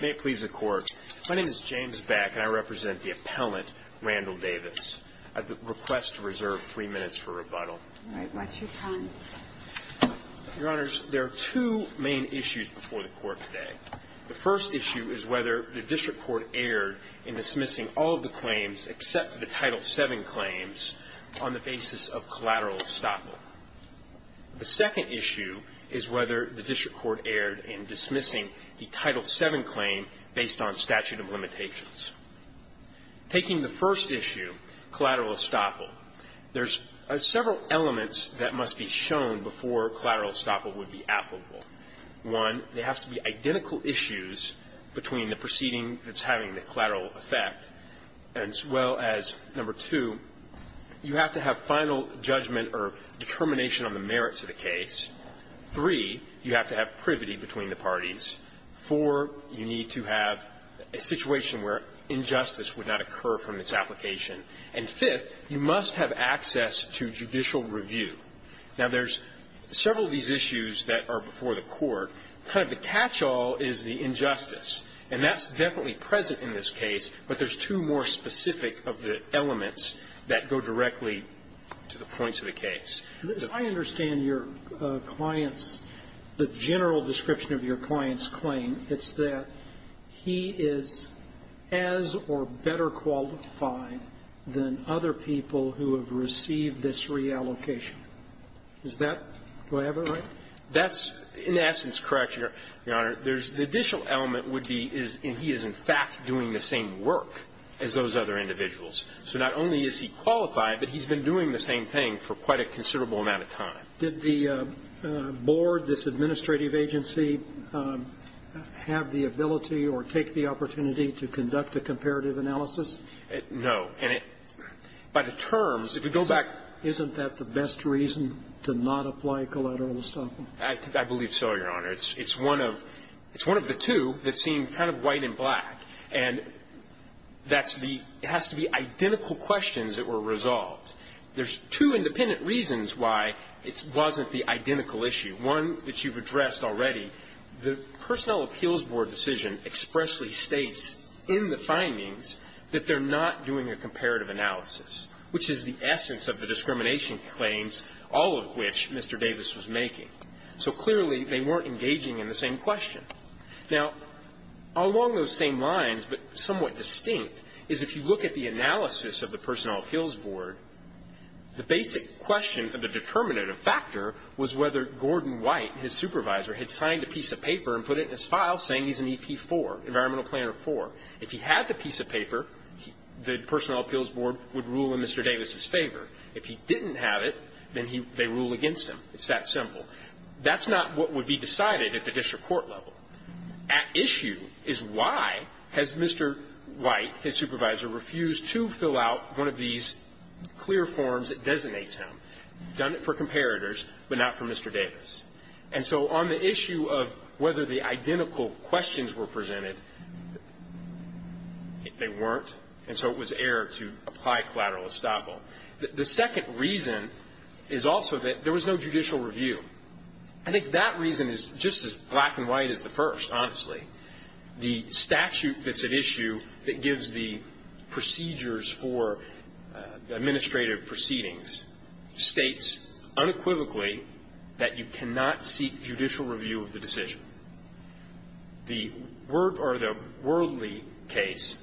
May it please the Court. My name is James Back and I represent the appellant, Randall Davis. I'd request to reserve three minutes for rebuttal. All right. Watch your time. Your Honors, there are two main issues before the Court today. The first issue is whether the district court erred in dismissing all of the claims except the Title VII claims on the basis of collateral estoppel. The second issue is whether the district court erred in dismissing the Title VII claim based on statute of limitations. Taking the first issue, collateral estoppel, there's several elements that must be shown before collateral estoppel would be applicable. One, there has to be identical issues between the proceeding that's having the collateral effect as well as, number two, you have to have final judgment or determination on the merits of the case. Three, you have to have privity between the parties. Four, you need to have a situation where injustice would not occur from this application. And fifth, you must have access to judicial review. Now, there's several of these issues that are before the Court. Kind of the catchall is the injustice, and that's definitely present in this case, but there's two more specific of the elements that go directly to the points of the case. I understand your client's, the general description of your client's claim. It's that he is as or better qualified than other people who have received this reallocation. Is that, do I have it right? That's, in essence, correct, Your Honor. The additional element would be is he is, in fact, doing the same work as those other individuals. So not only is he qualified, but he's been doing the same thing for quite a considerable amount of time. Did the board, this administrative agency, have the ability or take the opportunity to conduct a comparative analysis? No. And it, by the terms, if you go back isn't that the best reason to not apply collateral estoppel? I believe so, Your Honor. It's one of the two that seem kind of white and black. And that's the, it has to be identical questions that were resolved. There's two independent reasons why it wasn't the identical issue. One that you've addressed already, the Personnel Appeals Board decision expressly states in the findings that they're not doing a comparative analysis, which is the discrimination claims, all of which Mr. Davis was making. So clearly, they weren't engaging in the same question. Now, along those same lines, but somewhat distinct, is if you look at the analysis of the Personnel Appeals Board, the basic question of the determinative factor was whether Gordon White, his supervisor, had signed a piece of paper and put it in his file saying he's an EP4, Environmental Planner 4. If he had the piece of paper, the Personnel Appeals Board would rule in Mr. Davis's favor. If he didn't have it, then they rule against him. It's that simple. That's not what would be decided at the district court level. At issue is why has Mr. White, his supervisor, refused to fill out one of these clear forms that designates him. Done it for comparators, but not for Mr. Davis. And so on the issue of whether the identical questions were presented, they weren't, and so it was error to apply collateral estoppel. The second reason is also that there was no judicial review. I think that reason is just as black and white as the first, honestly. The statute that's at issue that gives the procedures for administrative proceedings states unequivocally that you cannot seek judicial review of the decision. The word or the worldly case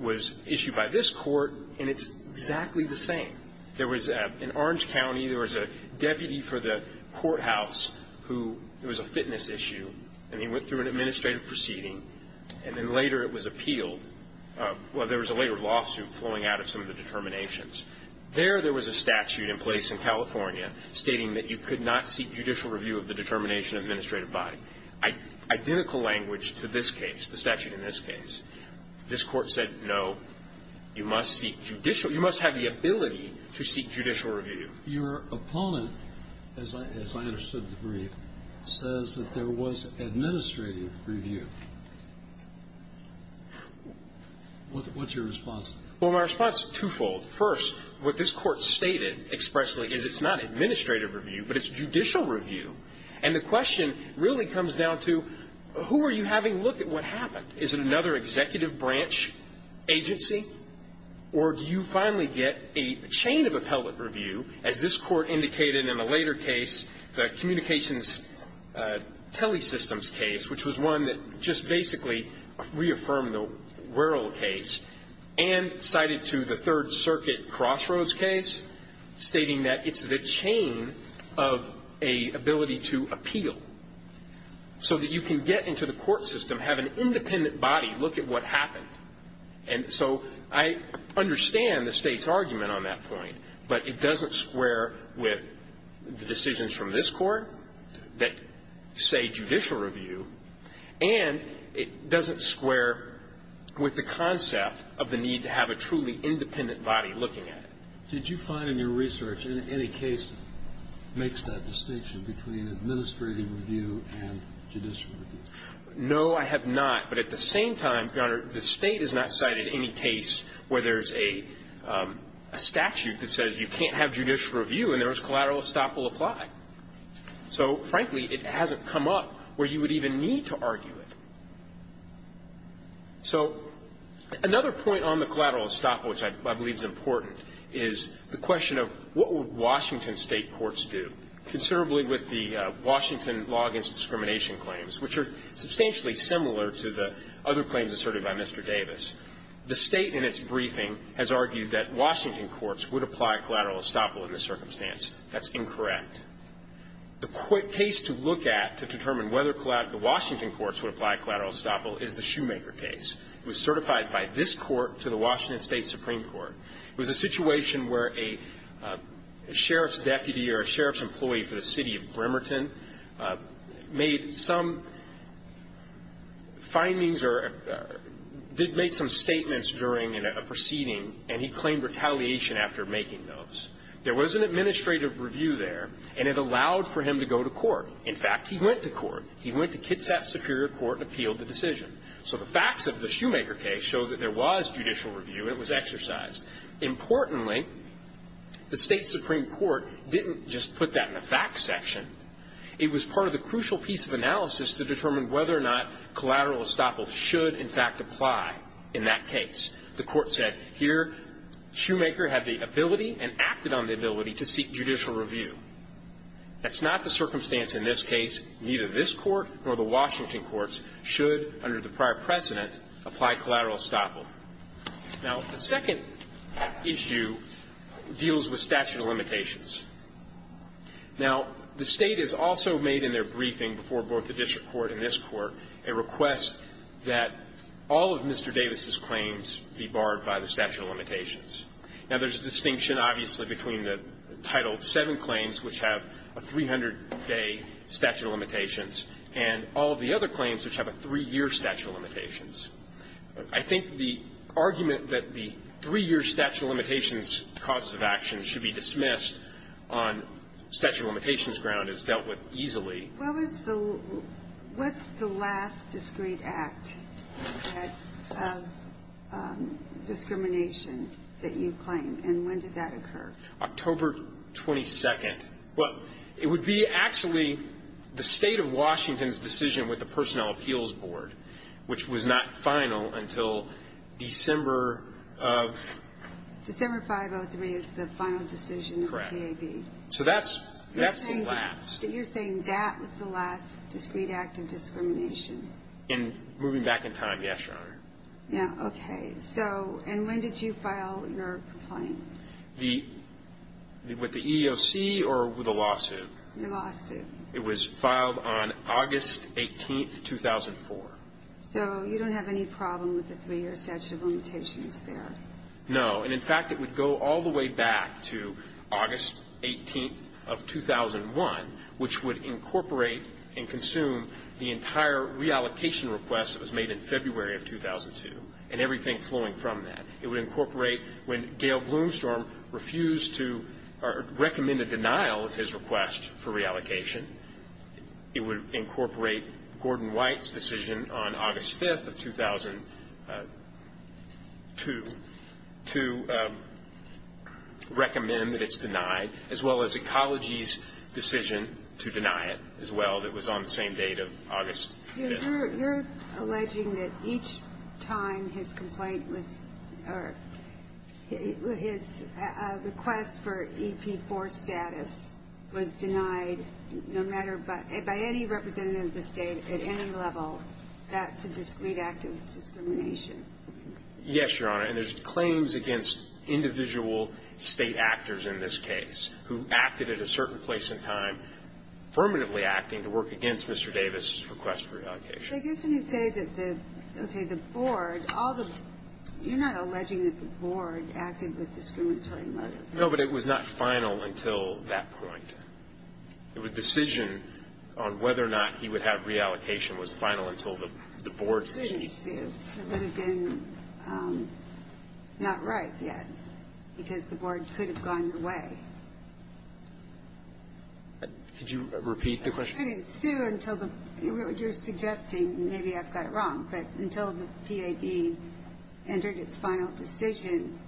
was issued by this court, and it's exactly the same. There was an Orange County, there was a deputy for the courthouse who, it was a fitness issue, and he went through an administrative proceeding, and then later it was appealed. Well, there was a later lawsuit flowing out of some of the determinations. There, there was a statute in place in California stating that you could not seek judicial review of the determination of an administrative body. Identical language to this case, the statute in this case. This Court said, no, you must seek judicial, you must have the ability to seek judicial review. Your opponent, as I understood the brief, says that there was administrative review. What's your response? Well, my response is twofold. First, what this Court stated expressly is it's not administrative review, but it's judicial review. And the question really comes down to who are you having look at what happened? Is it another executive branch agency? Or do you finally get a chain of appellate review, as this Court indicated in a later case, the Communications Telesystems case, which was one that just basically reaffirmed the Worrell case and cited to the Third Circuit Crossroads case, stating that it's the chain of an ability to appeal, so that you can get into the court system, have an independent body look at what happened. And so I understand the State's argument on that point, but it doesn't square with the decisions from this Court that say judicial review, and it doesn't square with the concept of the need to have a truly independent body looking at it. Did you find in your research any case makes that distinction between administrative review and judicial review? No, I have not. But at the same time, Your Honor, the State has not cited any case where there's a statute that says you can't have judicial review, and there's collateral estoppel apply. So, frankly, it hasn't come up where you would even need to argue it. So another point on the collateral estoppel, which I believe is important, is the question of what would Washington State courts do? Considerably, with the Washington Law Against Discrimination claims, which are substantially similar to the other claims asserted by Mr. Davis, the State in its briefing has argued that Washington courts would apply collateral estoppel in this circumstance. That's incorrect. The case to look at to determine whether Washington courts would apply collateral estoppel is the Shoemaker case. It was certified by this Court to the Washington State Supreme Court. It was a situation where a sheriff's deputy or a sheriff's employee for the city of Bremerton made some findings or did make some statements during a proceeding, and he claimed retaliation after making those. There was an administrative review there, and it allowed for him to go to court. In fact, he went to court. He went to Kitsap Superior Court and appealed the decision. So the facts of the Shoemaker case show that there was judicial review and it was exercised. Importantly, the State Supreme Court didn't just put that in the facts section. It was part of the crucial piece of analysis to determine whether or not collateral estoppel should, in fact, apply in that case. The Court said here Shoemaker had the ability and acted on the ability to seek judicial review. That's not the circumstance in this case. Neither this Court nor the Washington courts should, under the prior precedent, apply collateral estoppel. Now, the second issue deals with statute of limitations. Now, the State has also made in their briefing before both the district court and this Court a request that all of Mr. Davis's claims be barred by the statute of limitations. Now, there's a distinction, obviously, between the Title VII claims, which have a 300-day statute of limitations, and all of the other claims which have a three-year statute of limitations. I think the argument that the three-year statute of limitations causes of action should be dismissed on statute of limitations ground is dealt with easily. What's the last discrete act of discrimination that you claim, and when did that occur? October 22nd. Well, it would be actually the State of Washington's decision with the Personnel Appeals Board, which was not final until December of... December 503 is the final decision of the DAB. Correct. So that's the last. So you're saying that was the last discrete act of discrimination? In moving back in time, yes, Your Honor. Yeah. Okay. So, and when did you file your complaint? With the EEOC or with a lawsuit? With a lawsuit. It was filed on August 18th, 2004. So you don't have any problem with the three-year statute of limitations there? No. And, in fact, it would go all the way back to August 18th of 2001, which would incorporate and consume the entire reallocation request that was made in February of 2002, and everything flowing from that. It would incorporate when Gail Bloomstorm refused to recommend a denial of his request for reallocation. It would incorporate Gordon White's decision on August 5th of 2002 to recommend that it's denied, as well as Ecology's decision to deny it, as well, that was on the same date of August 5th. So you're alleging that each time his complaint was or his request for EP4 status was denied, no matter by any representative of the state at any level, that's a discreet act of discrimination? Yes, Your Honor. And there's claims against individual state actors in this case who acted at a certain place in time, affirmatively acting to work against Mr. Davis' request for reallocation. But I guess when you say that the, okay, the board, all the, you're not alleging that the board acted with discriminatory motives. No, but it was not final until that point. It was a decision on whether or not he would have reallocation was final until the board's decision. It would have been not right yet, because the board could have gone your way. Could you repeat the question? It couldn't ensue until the, you're suggesting, maybe I've got it wrong, but until the PAB entered its final decision,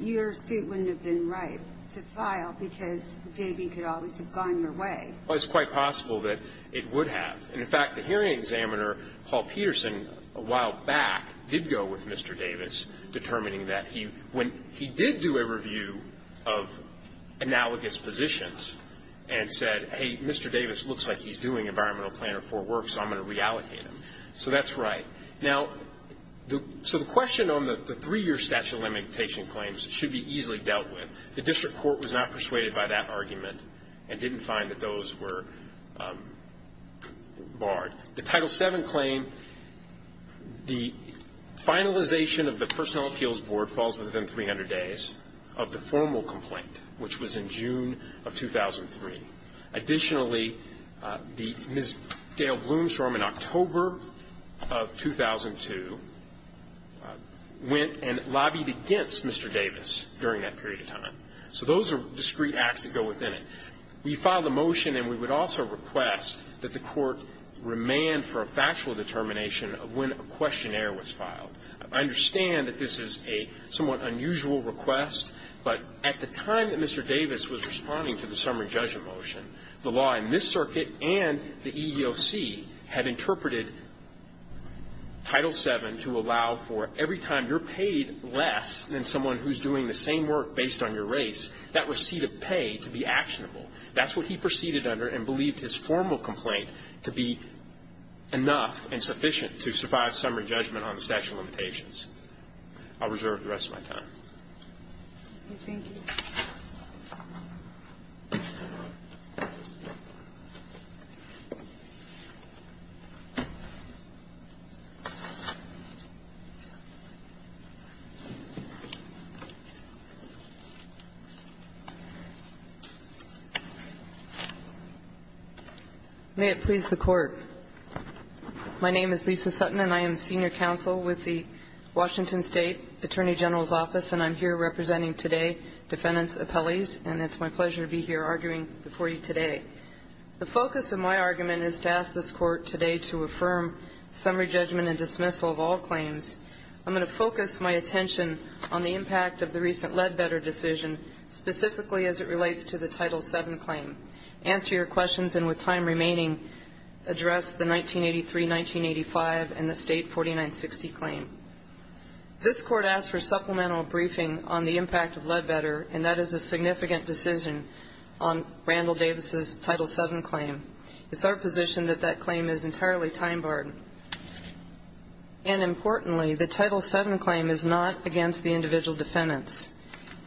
your suit wouldn't have been right to file, because the PAB could always have gone your way. Well, it's quite possible that it would have. And, in fact, the hearing examiner, Paul Peterson, a while back, did go with Mr. Davis, determining that he, when he did do a review of analogous positions and said, hey, Mr. Davis looks like he's doing environmental plan or four works, so I'm going to reallocate him. So that's right. Now, so the question on the three-year statute of limitation claims should be easily dealt with. The district court was not persuaded by that argument and didn't find that those were barred. The Title VII claim, the finalization of the personnel appeals board falls within 300 days of the formal complaint, which was in June of 2003. Additionally, the Ms. Gail Blomstrom, in October of 2002, went and lobbied against Mr. Davis during that period of time. So those are discrete acts that go within it. We filed a motion, and we would also request that the court remand for a factual determination of when a questionnaire was filed. I understand that this is a somewhat unusual request, but at the time that Mr. Davis was responding to the summary judgment motion, the law in this circuit and the EEOC had interpreted Title VII to allow for every time you're paid less than someone who's doing the same work based on your race, that receipt of pay to be actionable. That's what he proceeded under and believed his formal complaint to be enough and sufficient to survive summary judgment on the statute of limitations. I'll reserve the rest of my time. Thank you. May it please the Court. My name is Lisa Sutton, and I am senior counsel with the Washington State Attorney General's Office, and I'm here representing today defendants' appellees. And it's my pleasure to be here arguing before you today. The focus of my argument is to ask this Court today to affirm summary judgment and dismissal of all claims. I'm going to focus my attention on the impact of the recent Ledbetter decision, specifically as it relates to the Title VII claim, answer your questions, and with time remaining, address the 1983-1985 and the State 4960 claim. This Court asked for supplemental briefing on the impact of Ledbetter, and that is a significant decision on Randall Davis's Title VII claim. It's our position that that claim is entirely time-barred. And importantly, the Title VII claim is not against the individual defendants.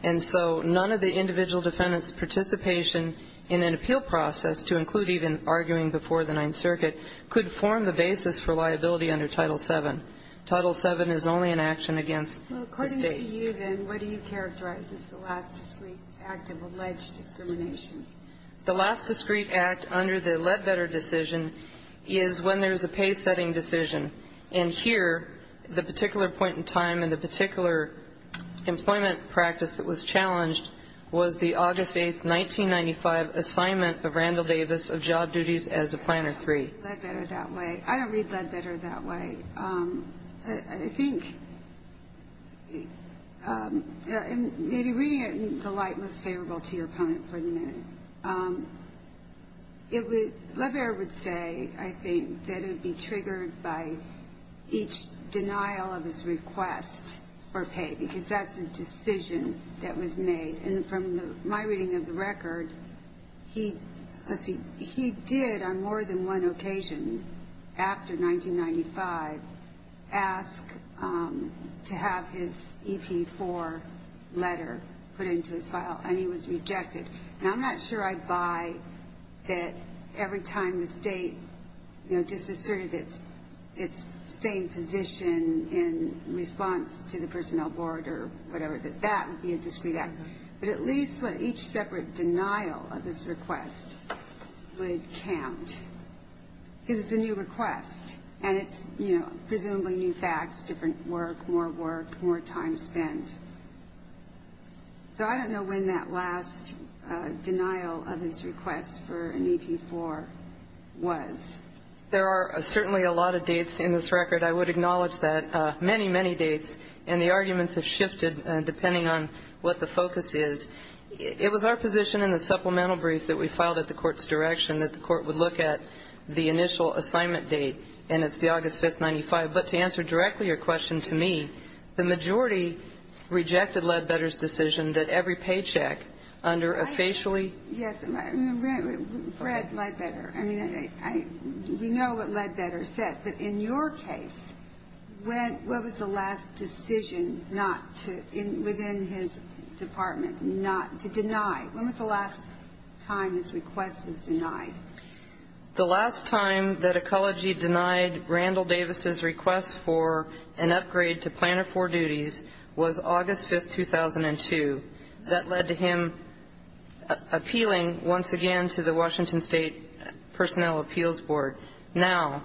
And so none of the individual defendants' participation in an appeal process, to include even arguing before the Ninth Circuit, could form the basis for liability under Title VII. Title VII is only an action against the State. Well, according to you then, what do you characterize as the last discreet act of alleged discrimination? The last discreet act under the Ledbetter decision is when there's a pay-setting decision. And here, the particular point in time and the particular employment practice that was challenged was the August 8, 1995, assignment of Randall Davis of job duties as a Planner III. I don't read Ledbetter that way. I don't read Ledbetter that way. I think maybe reading it in the light most favorable to your opponent for the minute. Ledbetter would say, I think, that it would be triggered by each denial of his request for pay, because that's a decision that was made. And from my reading of the record, he did, on more than one occasion after 1995, ask to have his EP4 letter put into his file, and he was rejected. Now, I'm not sure I buy that every time the State, you know, disasserted its same position in response to the Personnel Board or whatever, that that would be a discreet act. But at least what each separate denial of his request would count, because it's a new request, and it's, you know, presumably new facts, different work, more work, more time spent. So I don't know when that last denial of his request for an EP4 was. There are certainly a lot of dates in this record. I would acknowledge that. Many, many dates, and the arguments have shifted depending on what the focus is. It was our position in the supplemental brief that we filed at the Court's direction that the Court would look at the initial assignment date, and it's the August 5, 1995. But to answer directly your question to me, the majority rejected Ledbetter's decision that every paycheck under a facially ---- Yes. Fred Ledbetter. I mean, we know what Ledbetter said. But in your case, what was the last decision not to, within his department, not to deny? When was the last time his request was denied? The last time that Ecology denied Randall Davis's request for an upgrade to Planner IV duties was August 5, 2002. That led to him appealing once again to the Washington State Personnel Appeals Board. Now,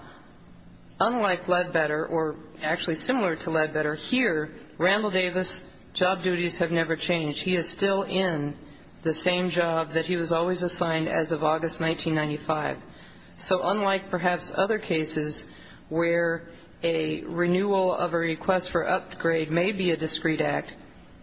unlike Ledbetter, or actually similar to Ledbetter, here Randall Davis's job duties have never changed. He is still in the same job that he was always assigned as of August 1995. So unlike perhaps other cases where a renewal of a request for upgrade may be a discreet act,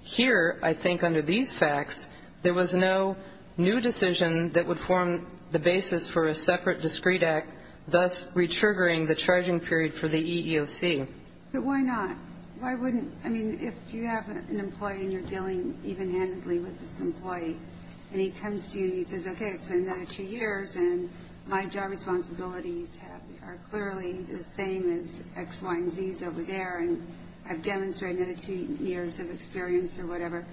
here, I think under these facts, there was no new decision that would form the basis for a separate discreet act, thus re-triggering the charging period for the EEOC. But why not? Why wouldn't ---- I mean, if you have an employee and you're dealing evenhandedly with this employee, and he comes to you and he says, okay, it's been another two years, and my job responsibilities are clearly the same as X, Y, and Z's over there, and I've demonstrated another two years of experience or whatever,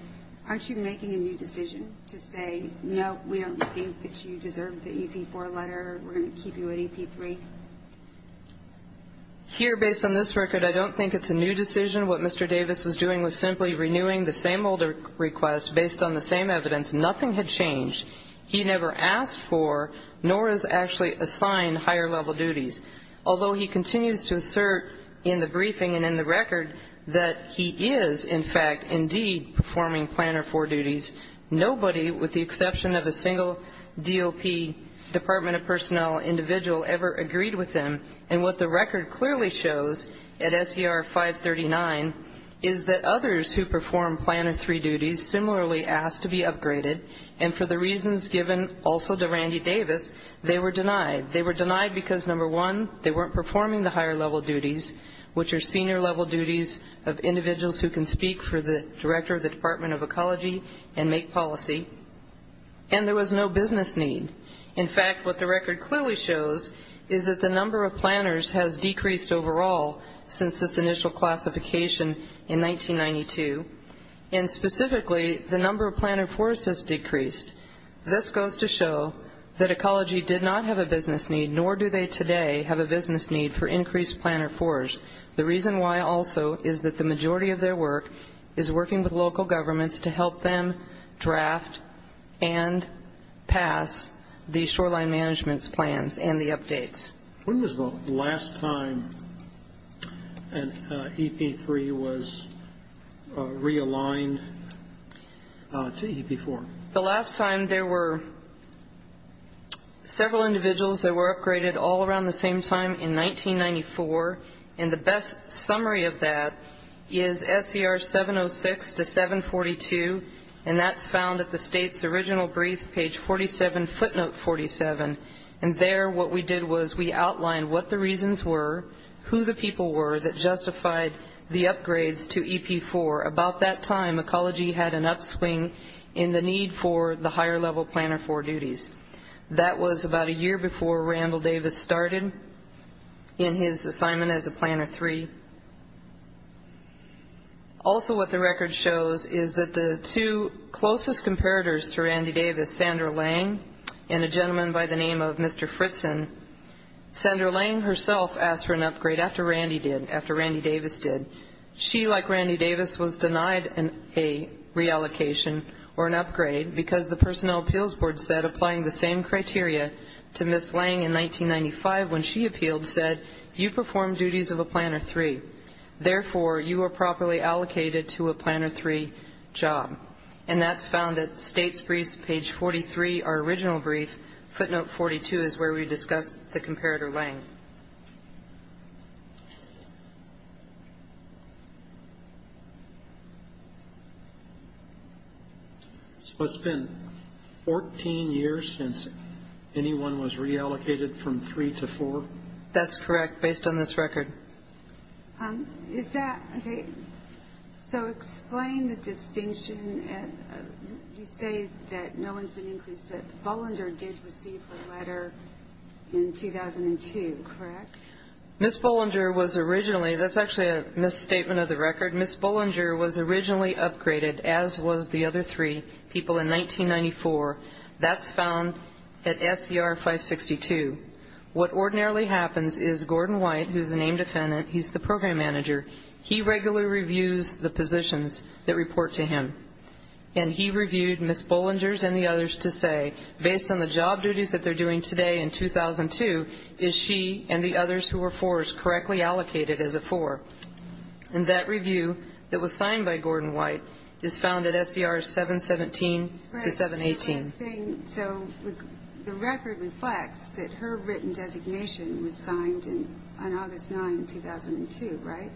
aren't you making a new decision to say, no, we don't think that you deserve the EP4 letter, we're going to keep you at EP3? Here, based on this record, I don't think it's a new decision. What Mr. Davis was doing was simply renewing the same old request based on the same evidence. Nothing had changed. He never asked for nor has actually assigned higher-level duties. Although he continues to assert in the briefing and in the record that he is, in fact, indeed performing Planner 4 duties, nobody with the exception of a single DOP, Department of Personnel individual, ever agreed with him. And what the record clearly shows at SER 539 is that others who perform Planner 3 duties similarly asked to be upgraded, and for the reasons given also to Randy Davis, they were denied. They were denied because, number one, they weren't performing the higher-level duties, which are senior-level duties of individuals who can speak for the Director of the Department of Ecology and make policy, and there was no business need. In fact, what the record clearly shows is that the number of planners has decreased overall since this initial classification in 1992, and specifically, the number of Planner 4s has decreased. This goes to show that Ecology did not have a business need, nor do they today have a business need for increased Planner 4s. The reason why also is that the majority of their work is working with local governments to help them draft and pass the shoreline management's plans and the updates. When was the last time an EP3 was realigned to EP4? The last time there were several individuals that were upgraded all around the same time in 1994, and the best summary of that is SER 706 to 742, and that's found at the State's original brief, page 47, footnote 47, and there what we did was we outlined what the reasons were, who the people were that justified the upgrades to EP4. About that time, Ecology had an upswing in the need for the higher-level Planner 4 duties. That was about a year before Randall Davis started in his assignment as a Planner 3. Also what the record shows is that the two closest comparators to Randy Davis, Sandra Lang and a gentleman by the name of Mr. Fritzen, Sandra Lang herself asked for an upgrade after Randy Davis did. She, like Randy Davis, was denied a reallocation or an upgrade because the Personnel Appeals Board said applying the same criteria to Ms. Lang in 1995 when she appealed said, you perform duties of a Planner 3. Therefore, you are properly allocated to a Planner 3 job, and that's found at State's brief, page 43, our original brief, footnote 42, is where we discussed the comparator, Lang. So it's been 14 years since anyone was reallocated from 3 to 4? That's correct, based on this record. Is that okay? So explain the distinction. You say that no one's been increased, that Bollinger did receive her letter in 2002, correct? Ms. Bollinger was originally – that's actually a misstatement of the record. Ms. Bollinger was originally upgraded, as was the other three people in 1994. That's found at SCR 562. What ordinarily happens is Gordon White, who's a named defendant, he's the program manager, he regularly reviews the positions that report to him. And he reviewed Ms. Bollinger's and the others to say, based on the job duties that they're doing today in 2002, is she and the others who were 4s correctly allocated as a 4? And that review that was signed by Gordon White is found at SCR 717 to 718. So the record reflects that her written designation was signed on August 9, 2002, right?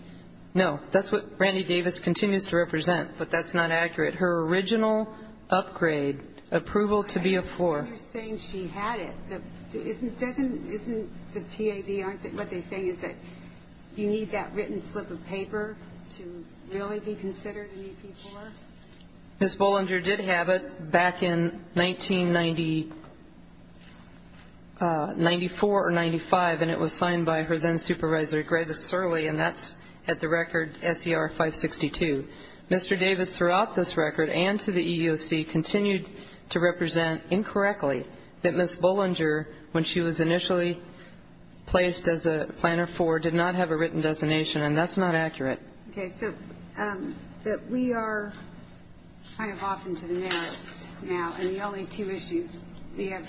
No. That's what Randy Davis continues to represent, but that's not accurate. Her original upgrade, approval to be a 4. You're saying she had it. Isn't the PAB, what they're saying, is that you need that written slip of paper to really be considered an AP4? Ms. Bollinger did have it back in 1994 or 95, and it was signed by her then-supervisor, Greg Cerle, and that's at the record SCR 562. Mr. Davis, throughout this record and to the EEOC, continued to represent incorrectly that Ms. Bollinger, when she was initially placed as a planner 4, did not have a written designation, and that's not accurate. Okay. So we are kind of off into the narrows now, and the only two issues, we have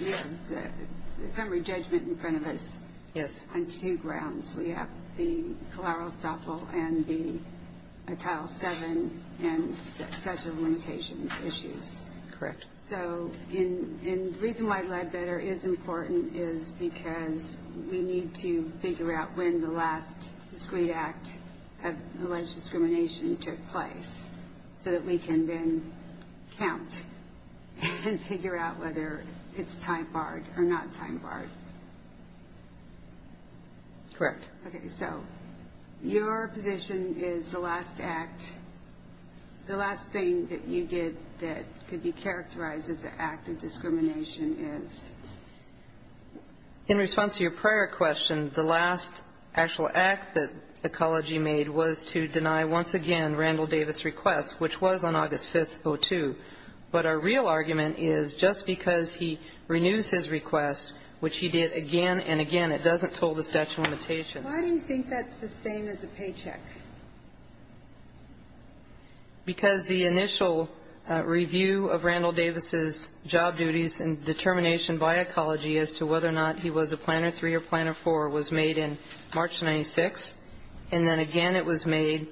the summary judgment in front of us on two grounds. We have the collateral estoppel and the Title VII and statute of limitations issues. Correct. So the reason why Leadbetter is important is because we need to figure out when the last discrete act of alleged discrimination took place so that we can then count and figure out whether it's time barred or not time barred. Correct. Okay. So your position is the last act, the last thing that you did that could be characterized as an act of discrimination is? In response to your prior question, the last actual act that Ecology made was to deny once again Randall Davis' request, which was on August 5th, 2002. But our real argument is just because he renews his request, which he did again and again, it doesn't toll the statute of limitations. Why do you think that's the same as a paycheck? Because the initial review of Randall Davis' job duties and determination by Ecology as to whether or not he was a Planner III or Planner IV was made in March of 1996, and then again it was made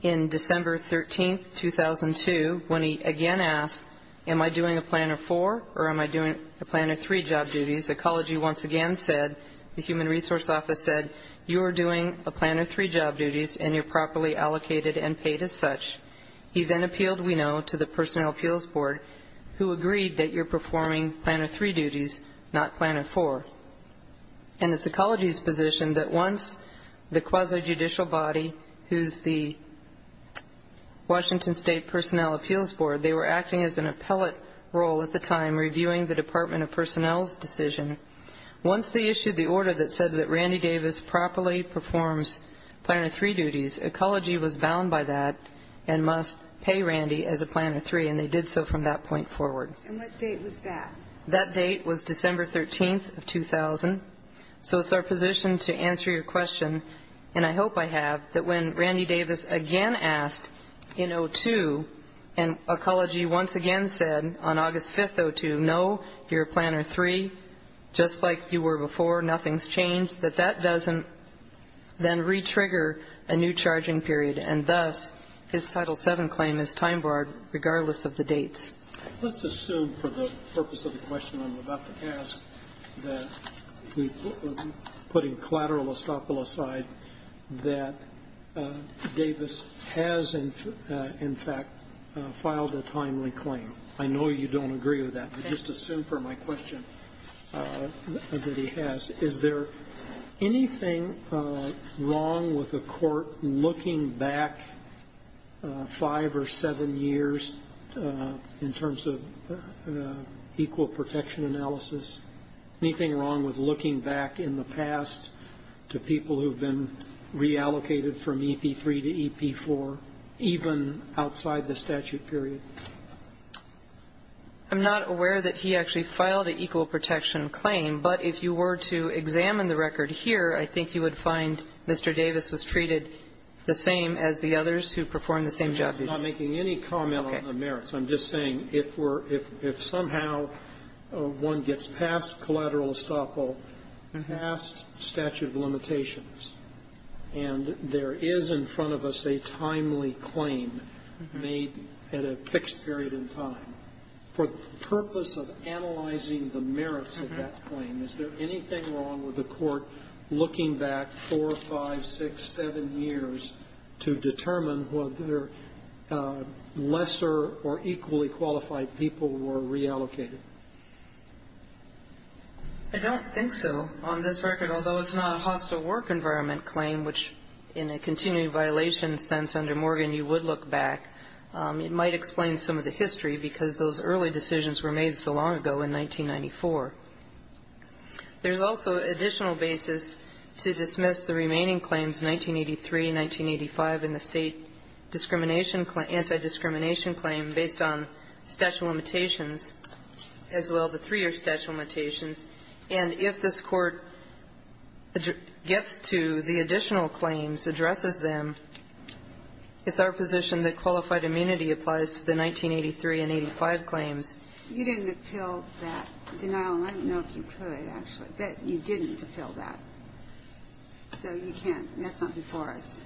in December 13th, 2002, when he again asked, am I doing a Planner IV or am I doing a Planner III job duties? Ecology once again said, the Human Resource Office said, you are doing a Planner III job duties and you're properly allocated and paid as such. He then appealed, we know, to the Personnel Appeals Board, who agreed that you're performing Planner III duties, not Planner IV. And it's Ecology's position that once the quasi-judicial body, who's the Washington State Personnel Appeals Board, they were acting as an appellate role at the time, reviewing the Department of Personnel's decision. Once they issued the order that said that Randy Davis properly performs Planner III duties, Ecology was bound by that and must pay Randy as a Planner III, and they did so from that point forward. And what date was that? That date was December 13th of 2000. So it's our position to answer your question, and I hope I have, that when Randy Davis again asked in 2002, and Ecology once again said on August 5th, 2002, no, you're a Planner III, just like you were before, nothing's changed, that that doesn't then re-trigger a new charging period, and thus his Title VII claim is time-barred regardless of the dates. Let's assume, for the purpose of the question I'm about to ask, that putting collateral estoppel aside, that Davis has in fact filed a timely claim. I know you don't agree with that. I just assume for my question that he has. Is there anything wrong with a court looking back five or seven years in terms of equal protection analysis? Anything wrong with looking back in the past to people who have been reallocated from EP3 to EP4, even outside the statute period? I'm not aware that he actually filed an equal protection claim, but if you were to examine the record here, I think you would find Mr. Davis was treated the same as the others who performed the same job duties. I'm not making any comment on the merits. I'm just saying if somehow one gets past collateral estoppel, past statute of limitations, and there is in front of us a timely claim made at a fixed period in time, for the purpose of analyzing the merits of that claim, is there anything wrong with a court looking back four, five, six, seven years to determine whether lesser or equally qualified people were reallocated? I don't think so. On this record, although it's not a hostile work environment claim, which in a continuing violation sense under Morgan you would look back, it might explain some of the history, because those early decisions were made so long ago in 1994. There's also additional basis to dismiss the remaining claims, 1983, 1985, and the state anti-discrimination claim based on statute of limitations, as well, the three are statute of limitations. And if this Court gets to the additional claims, addresses them, it's our position that qualified immunity applies to the 1983 and 85 claims. You didn't appeal that denial, and I don't know if you could, actually. But you didn't appeal that. So you can't. That's not before us.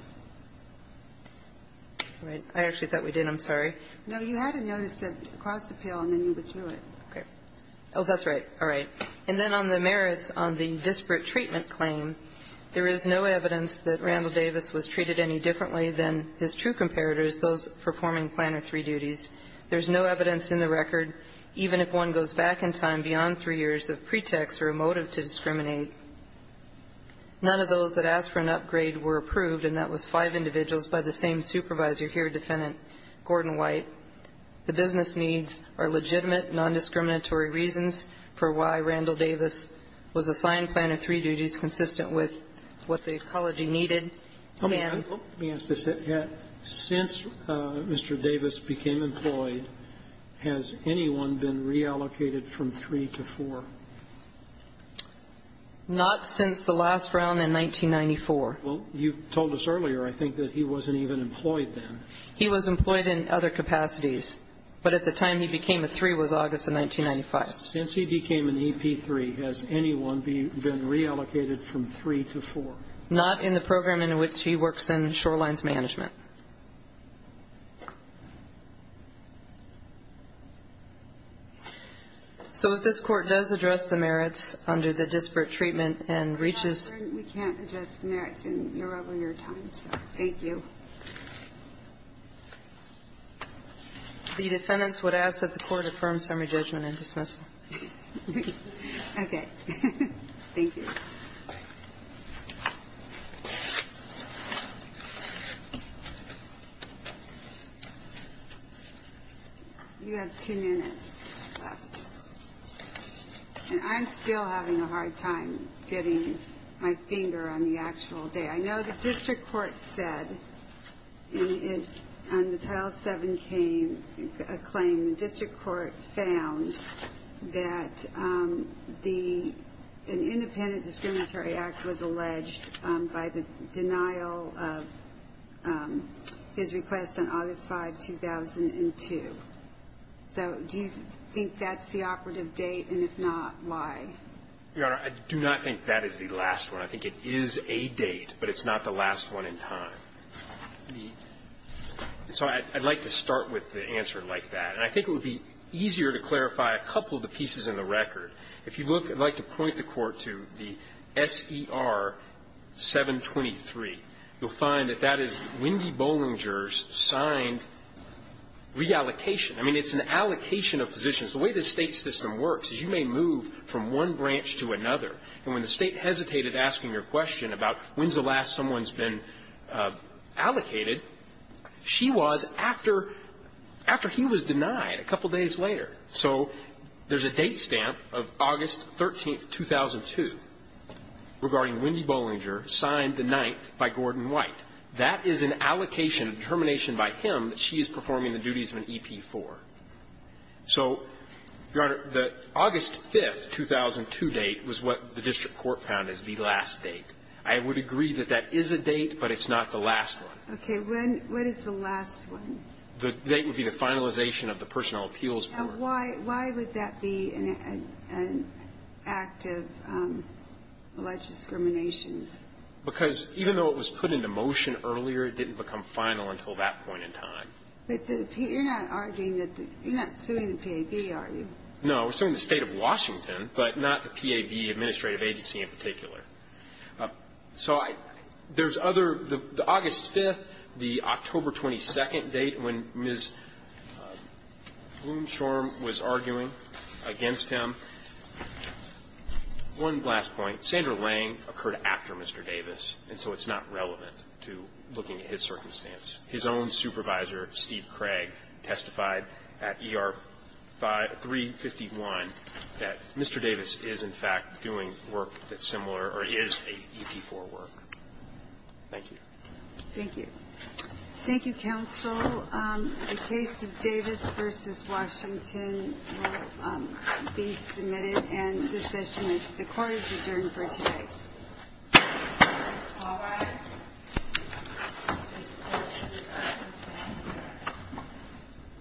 All right. I actually thought we did. I'm sorry. No, you had to notice it across appeal, and then you would do it. Okay. Oh, that's right. All right. And then on the merits on the disparate treatment claim, there is no evidence that Randall Davis was treated any differently than his true comparators, those performing planner three duties. There's no evidence in the record, even if one goes back in time beyond three years of pretext or a motive to discriminate. None of those that asked for an upgrade were approved, and that was five individuals by the same supervisor here, Defendant Gordon White. The business needs are legitimate, nondiscriminatory reasons for why Randall Davis was assigned planner three duties consistent with what the ecology needed. Let me ask this. Since Mr. Davis became employed, has anyone been reallocated from three to four? Not since the last round in 1994. Well, you told us earlier, I think, that he wasn't even employed then. He was employed in other capacities. But at the time he became a three was August of 1995. Since he became an EP3, has anyone been reallocated from three to four? Not in the program in which he works in Shorelines Management. So if this Court does address the merits under the disparate treatment and reaches We can't address the merits in your regular time, so thank you. The defendants would ask that the Court affirm summary judgment and dismissal. Okay. Thank you. You have 10 minutes left. And I'm still having a hard time getting my finger on the actual day. I know the district court said in its Title VII claim, the district court found that an independent discriminatory act was alleged by the denial of his request on August 5, 2002. So do you think that's the operative date? And if not, why? Your Honor, I do not think that is the last one. I think it is a date, but it's not the last one in time. So I'd like to start with the answer like that. And I think it would be easier to clarify a couple of the pieces in the record. If you look, I'd like to point the Court to the SER 723. You'll find that that is Wendy Bollinger's signed reallocation. I mean, it's an allocation of positions. The way the state system works is you may move from one branch to another. And when the state hesitated asking your question about when's the last someone's been allocated, she was after he was denied a couple days later. So there's a date stamp of August 13, 2002, regarding Wendy Bollinger signed the 9th by Gordon White. That is an allocation, a determination by him that she is performing the duties of an EP4. So, Your Honor, the August 5, 2002 date was what the district court found as the last date. I would agree that that is a date, but it's not the last one. Okay. When is the last one? The date would be the finalization of the Personnel Appeals Board. Now, why would that be an act of alleged discrimination? Because even though it was put into motion earlier, it didn't become final until that point in time. But you're not arguing that the you're not suing the PAB, are you? No. We're suing the State of Washington, but not the PAB Administrative Agency in particular. So there's other the August 5, the October 22 date when Ms. Blumshorn was arguing against him. One last point. Sandra Lange occurred after Mr. Davis, and so it's not relevant to looking at his circumstance. His own supervisor, Steve Craig, testified at ER 351 that Mr. Davis is, in fact, doing work that's similar or is an EP4 work. Thank you. Thank you. Thank you, counsel. The case of Davis v. Washington will be submitted and the session of the court is adjourned for today. All rise.